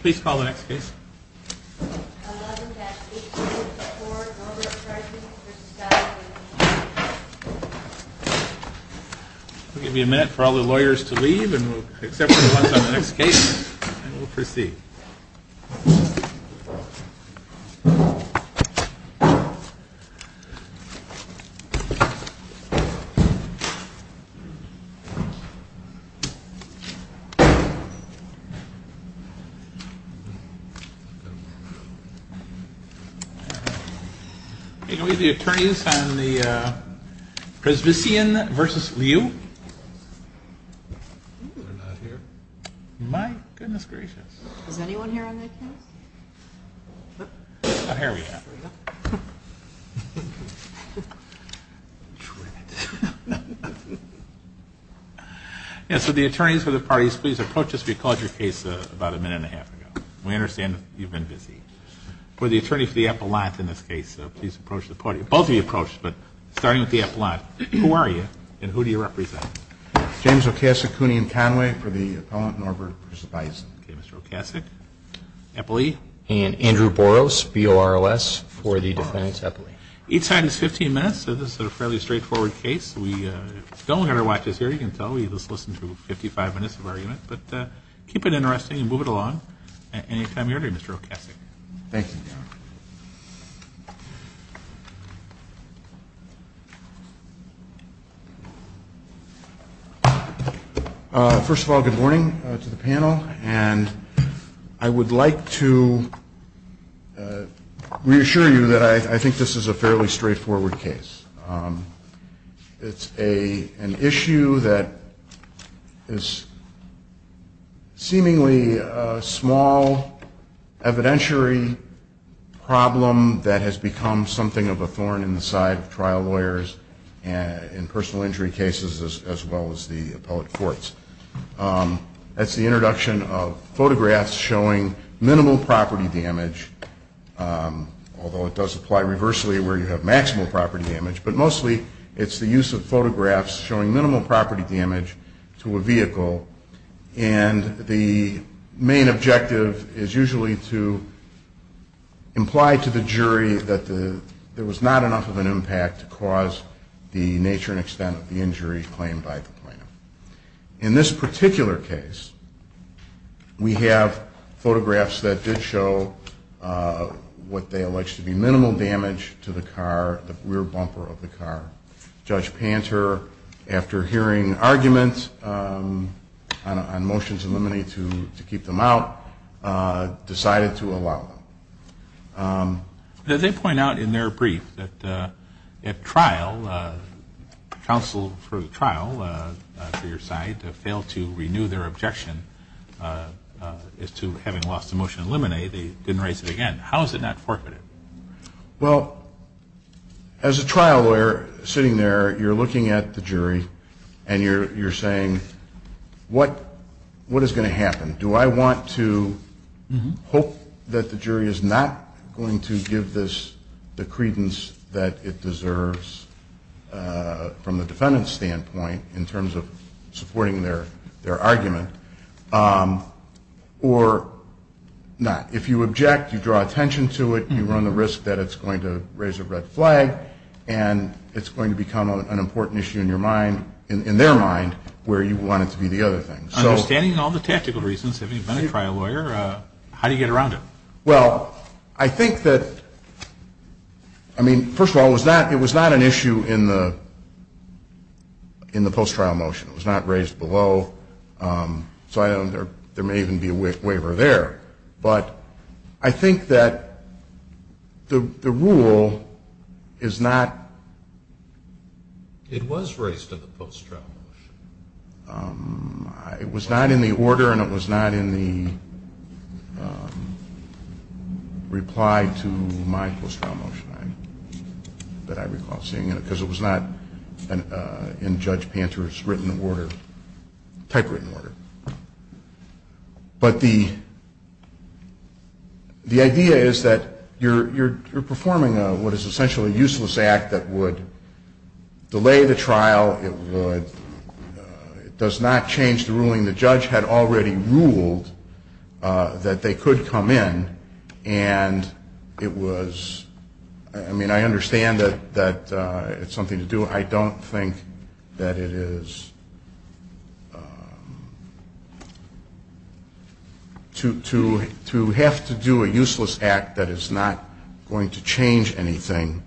Please call the next case. We'll give you a minute for all the lawyers to leave, and we'll accept your comments on the next case, and we'll proceed. The attorneys for the parties, please approach us. We called your case about a minute and a half ago. We understand that you've been busy. For the attorney for the Epelant in this case, please approach the party. Both of you approached, but starting with the Epelant, who are you and who do you represent? James Okasik, Cooney & Conway, for the Appellant Norberg v. Bison. Okay, Mr. Okasik. Epelee? And Andrew Boros, B-O-R-O-S, for the Defendant Epelee. Each side has 15 minutes, so this is a fairly straightforward case. We don't have our watches here, you can tell. We just listened to 55 minutes of argument. But keep it interesting and move it along any time you're ready, Mr. Okasik. Thank you. First of all, good morning to the panel. And I would like to reassure you that I think this is a fairly straightforward case. It's an issue that is seemingly a small evidentiary problem that has become something of a thorn in the side of trial lawyers in personal injury cases as well as the appellate courts. That's the introduction of photographs showing minimal property damage, although it does apply reversely where you have maximal property damage, but mostly it's the use of photographs showing minimal property damage to a vehicle. And the main objective is usually to imply to the jury that there was not enough of an impact to cause the nature and extent of the injury claimed by the plaintiff. In this particular case, we have photographs that did show what they allege to be minimal damage to the car, the rear bumper of the car. Judge Panter, after hearing arguments on motions eliminated to keep them out, decided to allow them. They point out in their brief that at trial, counsel for the trial, for your side, failed to renew their objection as to having lost the motion eliminated. They didn't raise it again. How is it not forfeited? Well, as a trial lawyer sitting there, you're looking at the jury and you're saying, what is going to happen? Do I want to hope that the jury is not going to give this the credence that it deserves from the defendant's standpoint in terms of supporting their argument or not? If you object, you draw attention to it, you run the risk that it's going to raise a red flag and it's going to become an important issue in their mind where you want it to be the other thing. Understanding all the tactical reasons, having been a trial lawyer, how do you get around it? Well, I think that, I mean, first of all, it was not an issue in the post-trial motion. It was not raised below, so there may even be a waiver there. But I think that the rule is not... It was raised in the post-trial motion. It was not in the order and it was not in the reply to my post-trial motion that I recall seeing, because it was not in Judge Panter's written order, typewritten order. But the idea is that you're performing what is essentially a useless act that would delay the trial, it does not change the ruling. The judge had already ruled that they could come in and it was, I mean, I understand that it's something to do. I don't think that it is to have to do a useless act that is not going to change anything.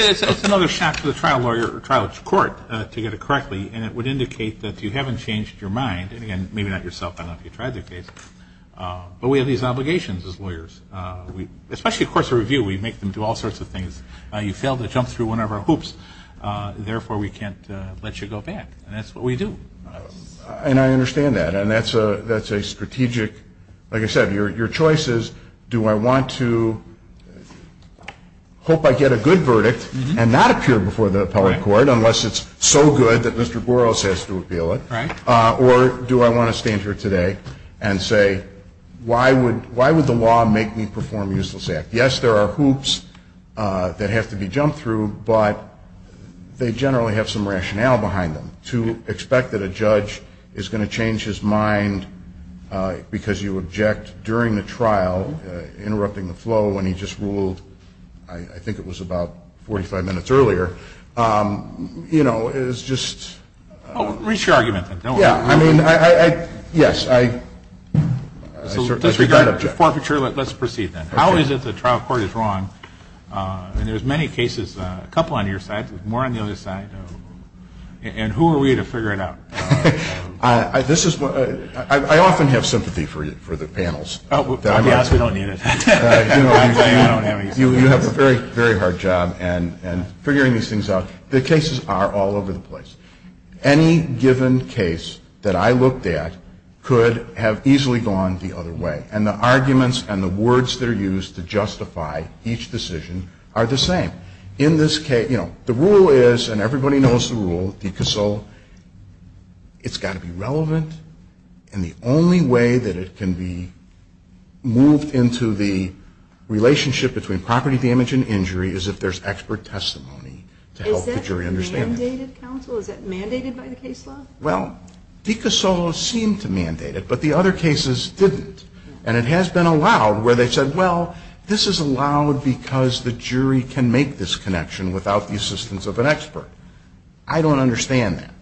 It's another shock to the trial lawyer or trial court to get it correctly, and it would indicate that you haven't changed your mind, and again, maybe not yourself, I don't know if you've tried the case, but we have these obligations as lawyers. Especially, of course, a review, we make them do all sorts of things. You fail to jump through one of our hoops, therefore we can't let you go back, and that's what we do. And I understand that, and that's a strategic... I hope I get a good verdict and not appear before the appellate court, unless it's so good that Mr. Boros has to appeal it, or do I want to stand here today and say, why would the law make me perform a useless act? Yes, there are hoops that have to be jumped through, but they generally have some rationale behind them. To expect that a judge is going to change his mind because you object during the trial, interrupting the flow when he just ruled, I think it was about 45 minutes earlier, you know, is just... Reach your argument, then, don't worry. Yeah, I mean, I, yes, I... So disregard the forfeiture, let's proceed then. How is it the trial court is wrong, and there's many cases, a couple on your side, more on the other side, and who are we to figure it out? This is... I often have sympathy for the panels. We don't need it. You have a very, very hard job in figuring these things out. The cases are all over the place. Any given case that I looked at could have easily gone the other way, and the arguments and the words that are used to justify each decision are the same. In this case, you know, the rule is, and everybody knows the rule, decus solo, it's got to be relevant, and the only way that it can be moved into the relationship between property damage and injury is if there's expert testimony to help the jury understand it. Is that mandated, counsel? Is that mandated by the case law? Well, decus solo seemed to mandate it, but the other cases didn't, and it has been allowed where they said, well, this is allowed because the jury can make this connection without the assistance of an expert. I don't understand that.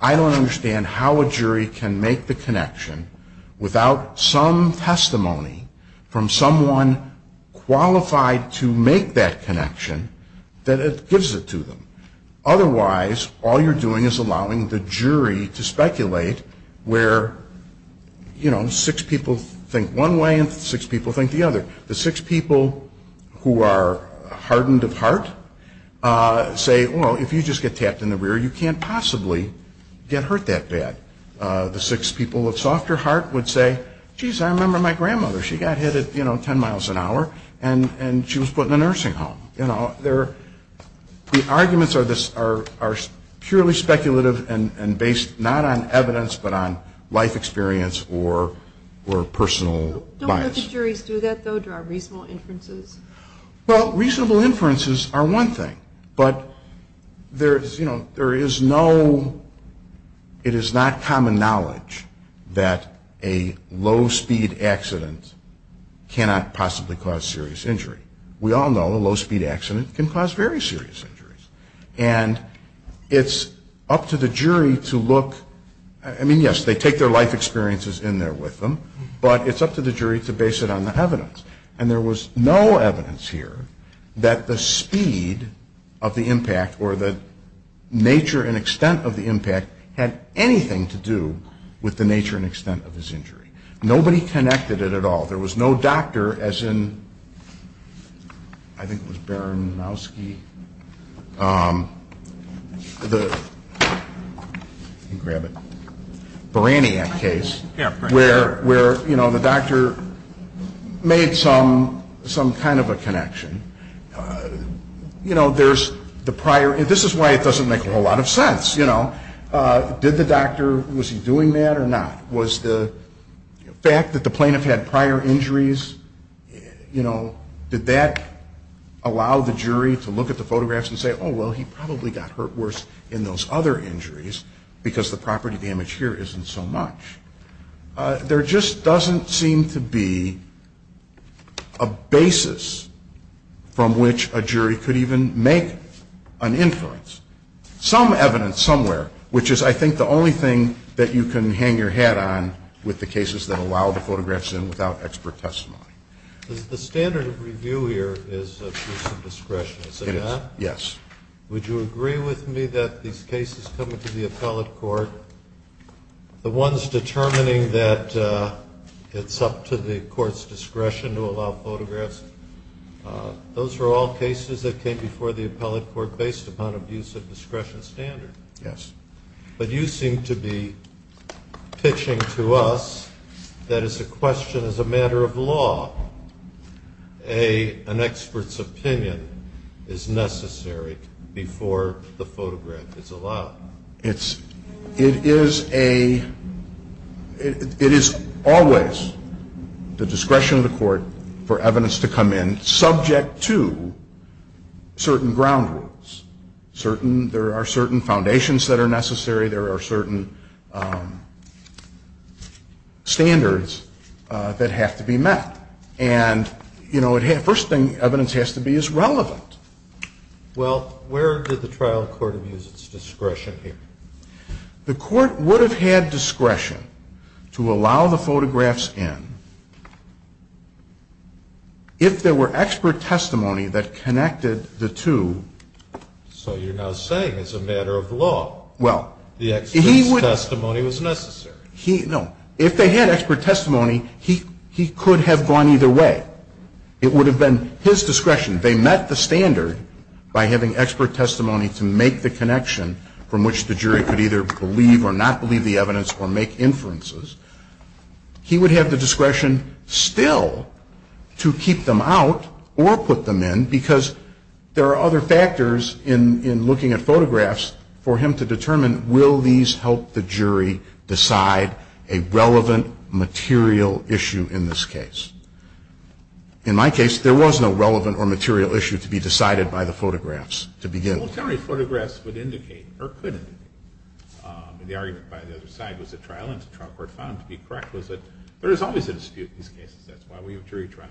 I don't understand how a jury can make the connection without some testimony from someone qualified to make that connection that gives it to them. Otherwise, all you're doing is allowing the jury to speculate where, you know, six people think one way and six people think the other. The six people who are hardened of heart say, well, if you just get tapped in the rear, you can't possibly get hurt that bad. The six people of softer heart would say, geez, I remember my grandmother. She got hit at, you know, 10 miles an hour, and she was put in a nursing home. You know, the arguments are purely speculative and based not on evidence but on life experience or personal bias. Don't the juries do that, though? Do there are reasonable inferences? Well, reasonable inferences are one thing, but there is no ñ it is not common knowledge that a low-speed accident cannot possibly cause serious injury. We all know a low-speed accident can cause very serious injuries. And it's up to the jury to look ñ I mean, yes, they take their life experiences in there with them, but it's up to the jury to base it on the evidence. And there was no evidence here that the speed of the impact or the nature and extent of the impact had anything to do with the nature and extent of his injury. Nobody connected it at all. There was no doctor, as in, I think it was Baron Mouski, the ñ let me grab it ñ Baraniak case, where, you know, the doctor made some kind of a connection. You know, there's the prior ñ this is why it doesn't make a whole lot of sense, you know. Did the doctor ñ was he doing that or not? Was the fact that the plaintiff had prior injuries, you know, did that allow the jury to look at the photographs and say, oh, well, he probably got hurt worse in those other injuries because the property damage here isn't so much? There just doesn't seem to be a basis from which a jury could even make an inference. Some evidence somewhere, which is, I think, the only thing that you can hang your hat on with the cases that allow the photographs in without expert testimony. The standard of review here is abuse of discretion, is it not? It is, yes. Would you agree with me that these cases coming to the appellate court, the ones determining that it's up to the court's discretion to allow photographs, those were all cases that came before the appellate court based upon abuse of discretion standard. Yes. But you seem to be pitching to us that as a question, as a matter of law, an expert's opinion is necessary before the photograph is allowed. Well, it's, it is a, it is always the discretion of the court for evidence to come in subject to certain ground rules, certain, there are certain foundations that are necessary, there are certain standards that have to be met. And, you know, first thing evidence has to be is relevant. Well, where did the trial court abuse its discretion here? The court would have had discretion to allow the photographs in if there were expert testimony that connected the two. So you're now saying as a matter of law, the expert's testimony was necessary. He, no. If they had expert testimony, he could have gone either way. It would have been his discretion. They met the standard by having expert testimony to make the connection from which the jury could either believe or not believe the evidence or make inferences. He would have the discretion still to keep them out or put them in because there are other factors in, in looking at photographs for him to determine will these help the jury decide a relevant material issue in this case. In my case, there was no relevant or material issue to be decided by the photographs to begin with. Well, generally photographs would indicate or could indicate. The argument by the other side was the trial court found to be correct was that there is always a dispute in these cases. That's why we have jury trials.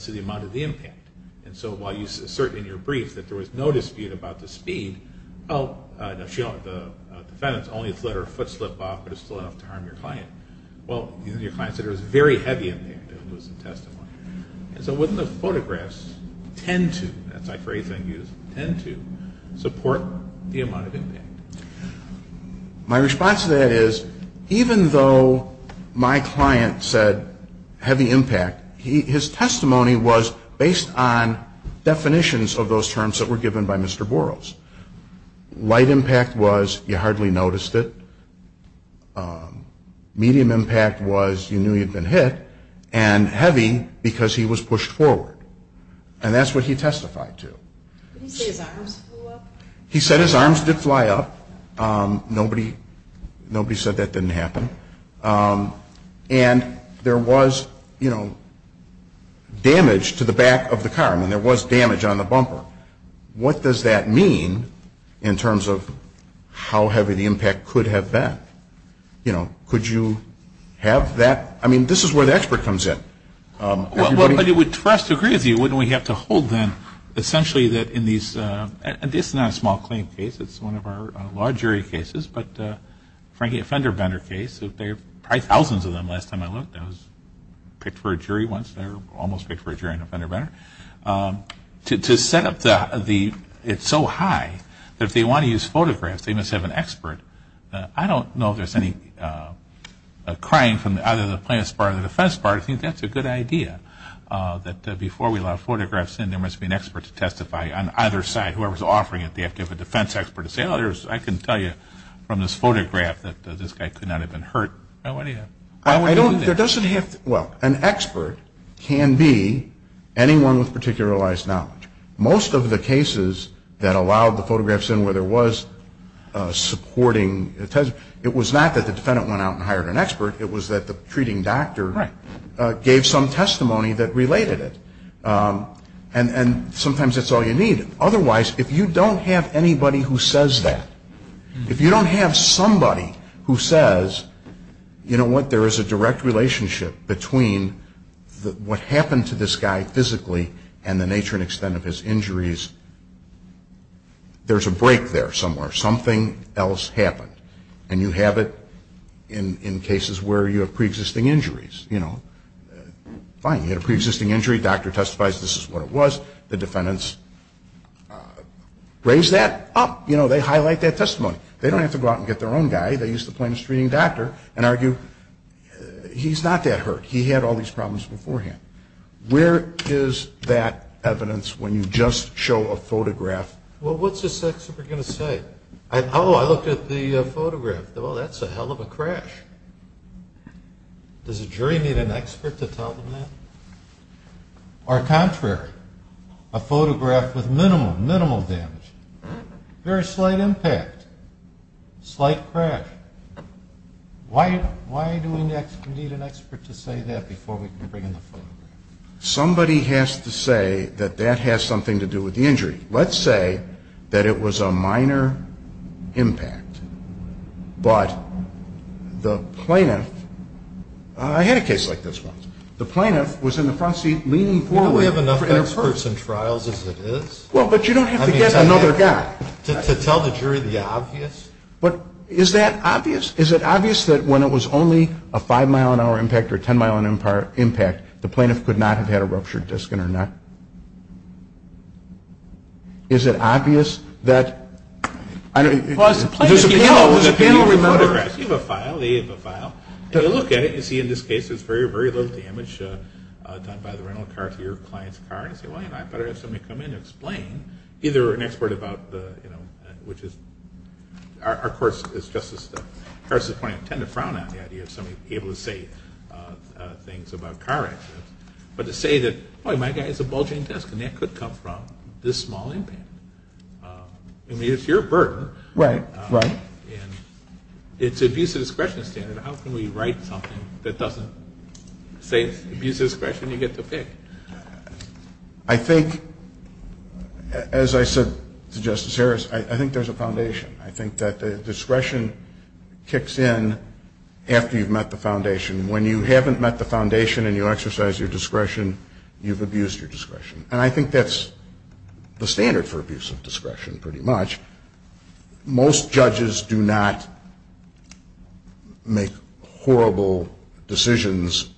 So the amount of the impact. And so while you assert in your brief that there was no dispute about the speed, well, the defendants only let her foot slip off but it's still enough to harm your client. Well, your client said it was a very heavy impact. It was a testimony. And so wouldn't the photographs tend to, that's a phrase I use, tend to support the amount of impact? My response to that is even though my client said heavy impact, his testimony was based on definitions of those terms that were given by Mr. Boros. Light impact was you hardly noticed it. Medium impact was you knew you'd been hit. And heavy because he was pushed forward. And that's what he testified to. Did he say his arms flew up? He said his arms did fly up. Nobody said that didn't happen. And there was, you know, damage to the back of the car. I mean, there was damage on the bumper. Now, what does that mean in terms of how heavy the impact could have been? You know, could you have that? I mean, this is where the expert comes in. Well, but it would, for us to agree with you, wouldn't we have to hold then essentially that in these, and this is not a small claim case. It's one of our law jury cases. But, frankly, a fender bender case. There were probably thousands of them last time I looked. I was picked for a jury once. I was almost picked for a jury on a fender bender. To set up the, it's so high that if they want to use photographs, they must have an expert. I don't know if there's any crying from either the plaintiff's part or the defense part. I think that's a good idea that before we allow photographs in, there must be an expert to testify on either side. Whoever's offering it, they have to have a defense expert to say, oh, I can tell you from this photograph that this guy could not have been hurt. I don't want to do that. Well, an expert can be anyone with particularized knowledge. Most of the cases that allowed the photographs in where there was supporting testimony, it was not that the defendant went out and hired an expert. It was that the treating doctor gave some testimony that related it. And sometimes that's all you need. Otherwise, if you don't have anybody who says that, if you don't have somebody who says, you know what, there is a direct relationship between what happened to this guy physically and the nature and extent of his injuries, there's a break there somewhere. Something else happened. And you have it in cases where you have preexisting injuries. You know, fine, you had a preexisting injury. The doctor testifies this is what it was. The defendants raise that up. You know, they highlight that testimony. They don't have to go out and get their own guy. They use the plaintiff's treating doctor and argue he's not that hurt. He had all these problems beforehand. Where is that evidence when you just show a photograph? Well, what's this expert going to say? Oh, I looked at the photograph. Oh, that's a hell of a crash. Does a jury need an expert to tell them that? Or contrary, a photograph with minimal, minimal damage, very slight impact, slight crash. Why do we need an expert to say that before we can bring in the photograph? Somebody has to say that that has something to do with the injury. Let's say that it was a minor impact, but the plaintiff, I had a case like this once, the plaintiff was in the front seat leaning forward. We have enough experts in trials as it is. Well, but you don't have to get another guy. To tell the jury the obvious. But is that obvious? Is it obvious that when it was only a 5-mile-an-hour impact or a 10-mile-an-hour impact, the plaintiff could not have had a ruptured disc in her neck? Is it obvious that? There's a panel of photographs. You have a file. They have a file. And you look at it and you see in this case there's very, very little damage done by the rental car to your client's car. And you say, well, you know, I better have somebody come in and explain. Either an expert about the, you know, which is, our court is just as, as far as the plaintiff, tend to frown on the idea of somebody being able to say things about car accidents. But to say that, boy, my guy has a bulging disc and that could come from this small impact. I mean, it's your burden. Right, right. And it's abuse of discretion standard. How can we write something that doesn't say abuse of discretion? You get to pick. I think, as I said to Justice Harris, I think there's a foundation. I think that the discretion kicks in after you've met the foundation. When you haven't met the foundation and you exercise your discretion, you've abused your discretion. And I think that's the standard for abuse of discretion, pretty much. Most judges do not make horrible decisions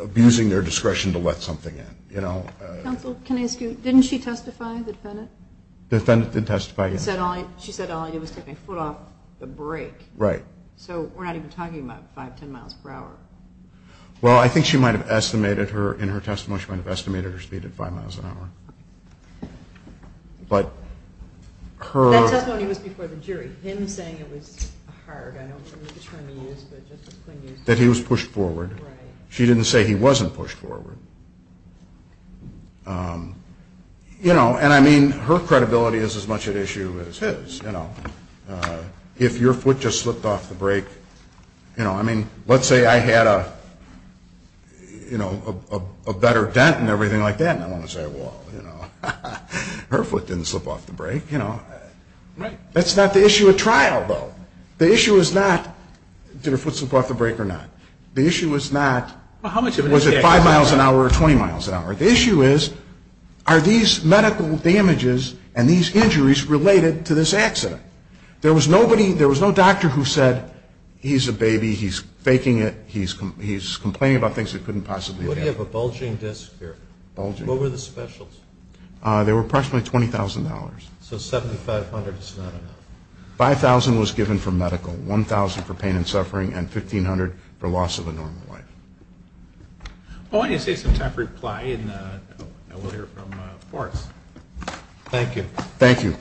abusing their discretion to let something in, you know. Counsel, can I ask you, didn't she testify, the defendant? The defendant did testify, yes. She said all I did was take my foot off the brake. Right. So we're not even talking about 5, 10 miles per hour. Well, I think she might have estimated her, in her testimony, she might have estimated her speed at 5 miles an hour. But her... That testimony was before the jury. Him saying it was hard, I don't know which term he used, but Justice Kline used it. That he was pushed forward. Right. She didn't say he wasn't pushed forward. You know, and I mean, her credibility is as much at issue as his, you know. If your foot just slipped off the brake, you know, I mean, let's say I had a, you know, a better dent and everything like that, and I want to say, well, you know, her foot didn't slip off the brake, you know. Right. That's not the issue at trial, though. The issue is not did her foot slip off the brake or not. The issue is not was it 5 miles an hour or 20 miles an hour. The issue is are these medical damages and these injuries related to this accident? There was nobody, there was no doctor who said he's a baby, he's faking it, he's complaining about things he couldn't possibly have. You have a bulging disc here. Bulging. What were the specials? They were approximately $20,000. So $7,500 is not enough. $5,000 was given for medical, $1,000 for pain and suffering, and $1,500 for loss of a normal life. Well, why don't you say some tough reply, and we'll hear from Forrest. Thank you. Thank you.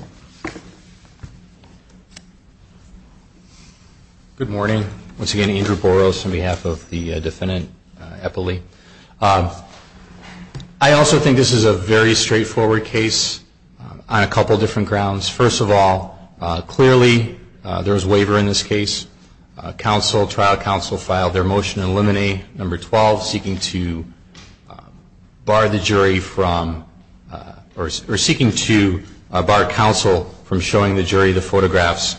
Good morning. Once again, Andrew Boros on behalf of the defendant, Eppley. I also think this is a very straightforward case on a couple different grounds. First of all, clearly there was waiver in this case. Counsel, trial counsel filed their motion to eliminate number 12, seeking to bar the jury from, or seeking to bar counsel from taking the case. Seeking to bar counsel from showing the jury the photographs.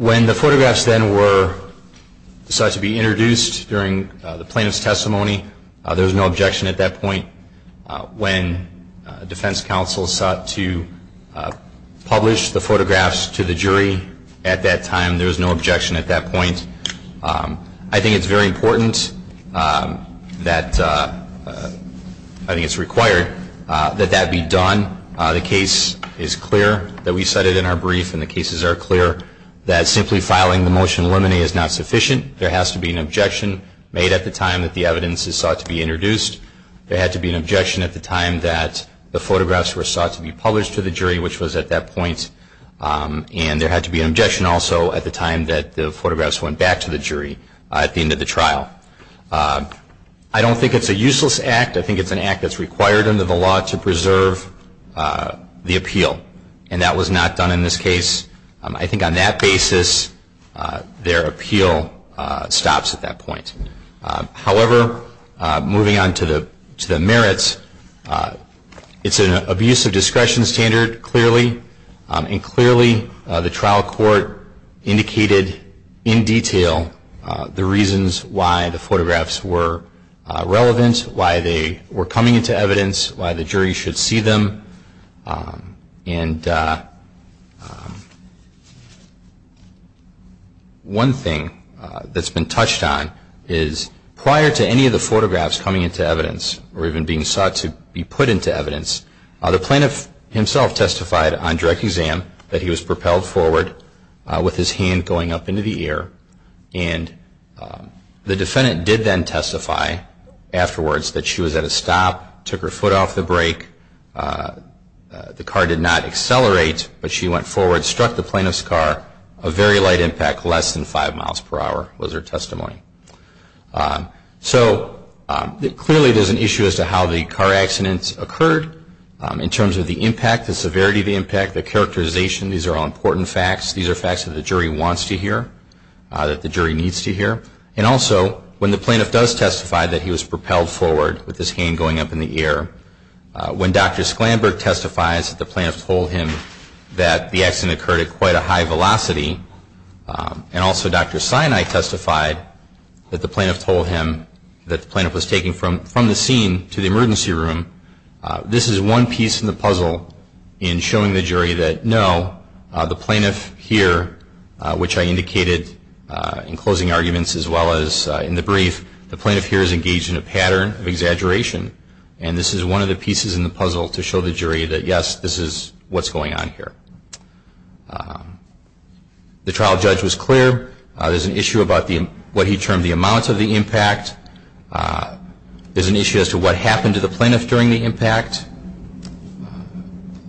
When the photographs then were, decided to be introduced during the plaintiff's testimony, there was no objection at that point. When defense counsel sought to publish the photographs to the jury at that time, there was no objection at that point. I think it's very important that, I think it's required that that be done. The case is clear that we set it in our brief, and the cases are clear that simply filing the motion to eliminate is not sufficient. There has to be an objection made at the time that the evidence is sought to be introduced. There had to be an objection at the time that the photographs were sought to be published to the jury, which was at that point. And there had to be an objection also at the time that the photographs went back to the jury at the end of the trial. I don't think it's a useless act. I think it's an act that's required under the law to preserve the appeal, and that was not done in this case. I think on that basis, their appeal stops at that point. However, moving on to the merits, it's an abuse of discretion standard, clearly, and clearly the trial court indicated in detail the reasons why the photographs were relevant, why they were coming into evidence, why the jury should see them. And one thing that's been touched on is prior to any of the photographs coming into evidence or even being sought to be put into evidence, the plaintiff himself testified on direct exam that he was propelled forward with his hand going up into the air, and the defendant did then testify afterwards that she was at a stop, took her foot off the brake, the car did not accelerate, but she went forward, struck the plaintiff's car, a very light impact, less than five miles per hour was her testimony. So clearly there's an issue as to how the car accidents occurred in terms of the impact, the severity of the impact, the characterization. These are all important facts. These are facts that the jury wants to hear, that the jury needs to hear. And also, when the plaintiff does testify that he was propelled forward with his hand going up in the air, when Dr. Sklandberg testifies that the plaintiff told him that the accident occurred at quite a high velocity, and also Dr. Sinai testified that the plaintiff told him that the plaintiff was taken from the scene to the emergency room, this is one piece in the puzzle in showing the jury that, no, the plaintiff here, which I indicated in closing arguments as well as in the brief, the plaintiff here is engaged in a pattern of exaggeration, and this is one of the pieces in the puzzle to show the jury that, yes, this is what's going on here. The trial judge was clear. There's an issue about what he termed the amount of the impact. There's an issue as to what happened to the plaintiff during the impact.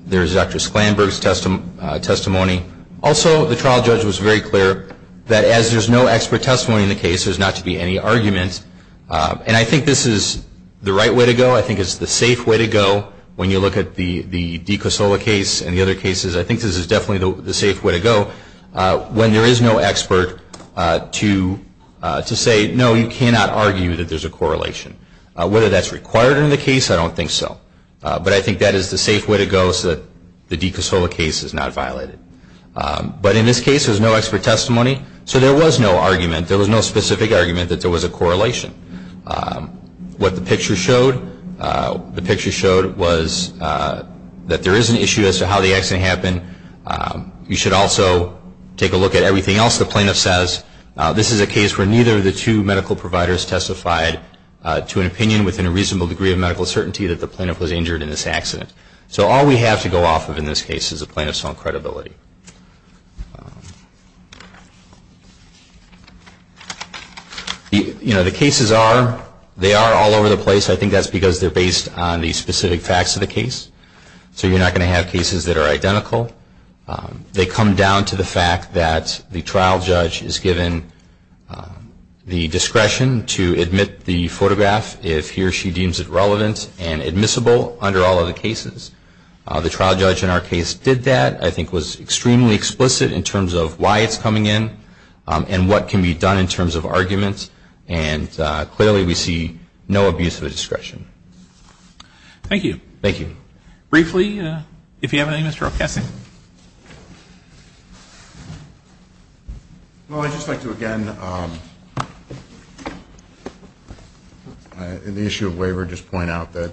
There's Dr. Sklandberg's testimony. Also, the trial judge was very clear that as there's no expert testimony in the case, there's not to be any argument. And I think this is the right way to go. I think it's the safe way to go when you look at the DiCosola case and the other cases. I think this is definitely the safe way to go when there is no expert to say, no, you cannot argue that there's a correlation. Whether that's required in the case, I don't think so. But I think that is the safe way to go so that the DiCosola case is not violated. But in this case, there's no expert testimony, so there was no argument. There was no specific argument that there was a correlation. What the picture showed, the picture showed was that there is an issue as to how the accident happened. You should also take a look at everything else the plaintiff says. This is a case where neither of the two medical providers testified to an opinion within a reasonable degree of medical certainty that the plaintiff was injured in this accident. So all we have to go off of in this case is the plaintiff's own credibility. You know, the cases are, they are all over the place. I think that's because they're based on the specific facts of the case. So you're not going to have cases that are identical. They come down to the fact that the trial judge is given the discretion to admit the photograph if he or she deems it relevant and admissible under all of the cases. The trial judge in our case did that. That, I think, was extremely explicit in terms of why it's coming in and what can be done in terms of arguments. And clearly we see no abuse of the discretion. Thank you. Thank you. Briefly, if you have anything, Mr. O'Kessing. Well, I'd just like to again, in the issue of waiver, just point out that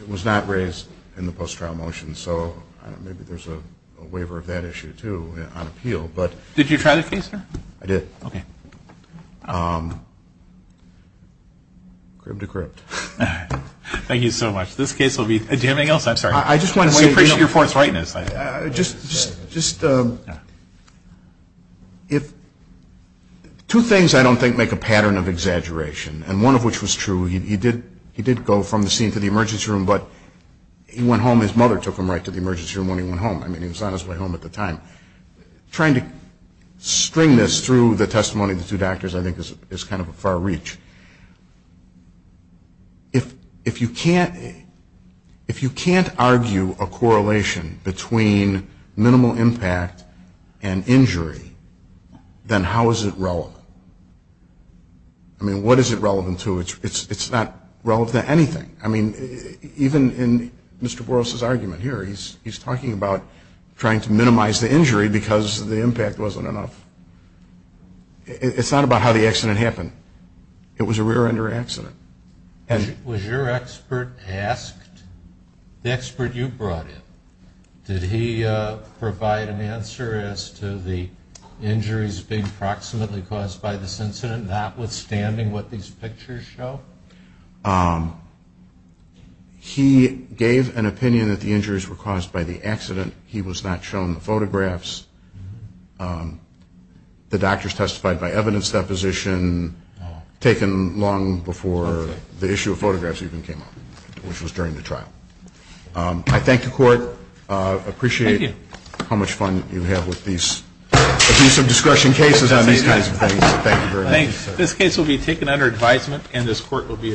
it was not raised in the post-trial motion. So maybe there's a waiver of that issue, too, on appeal. Did you try the case, sir? I did. Okay. Crib to crib. Thank you so much. This case will be, do you have anything else? I'm sorry. I just want to say. We appreciate your forthrightness. Just, if, two things I don't think make a pattern of exaggeration. And one of which was true. He did go from the scene to the emergency room, but he went home. His mother took him right to the emergency room when he went home. I mean, he was on his way home at the time. Trying to string this through the testimony of the two doctors, I think, is kind of a far reach. If you can't argue a correlation between minimal impact and injury, then how is it relevant? I mean, what is it relevant to? It's not relevant to anything. I mean, even in Mr. Boros's argument here, he's talking about trying to minimize the injury because the impact wasn't enough. It's not about how the accident happened. It was a rear-ender accident. Was your expert asked, the expert you brought in, did he provide an answer as to the injuries being approximately caused by this incident, notwithstanding what these pictures show? He gave an opinion that the injuries were caused by the accident. He was not shown the photographs. The doctors testified by evidence deposition, taken long before the issue of photographs even came up, which was during the trial. I thank the Court. I appreciate how much fun you have with these abuse of discretion cases on these kinds of things. Thank you very much. This case will be taken under advisement and this Court will be adjourned.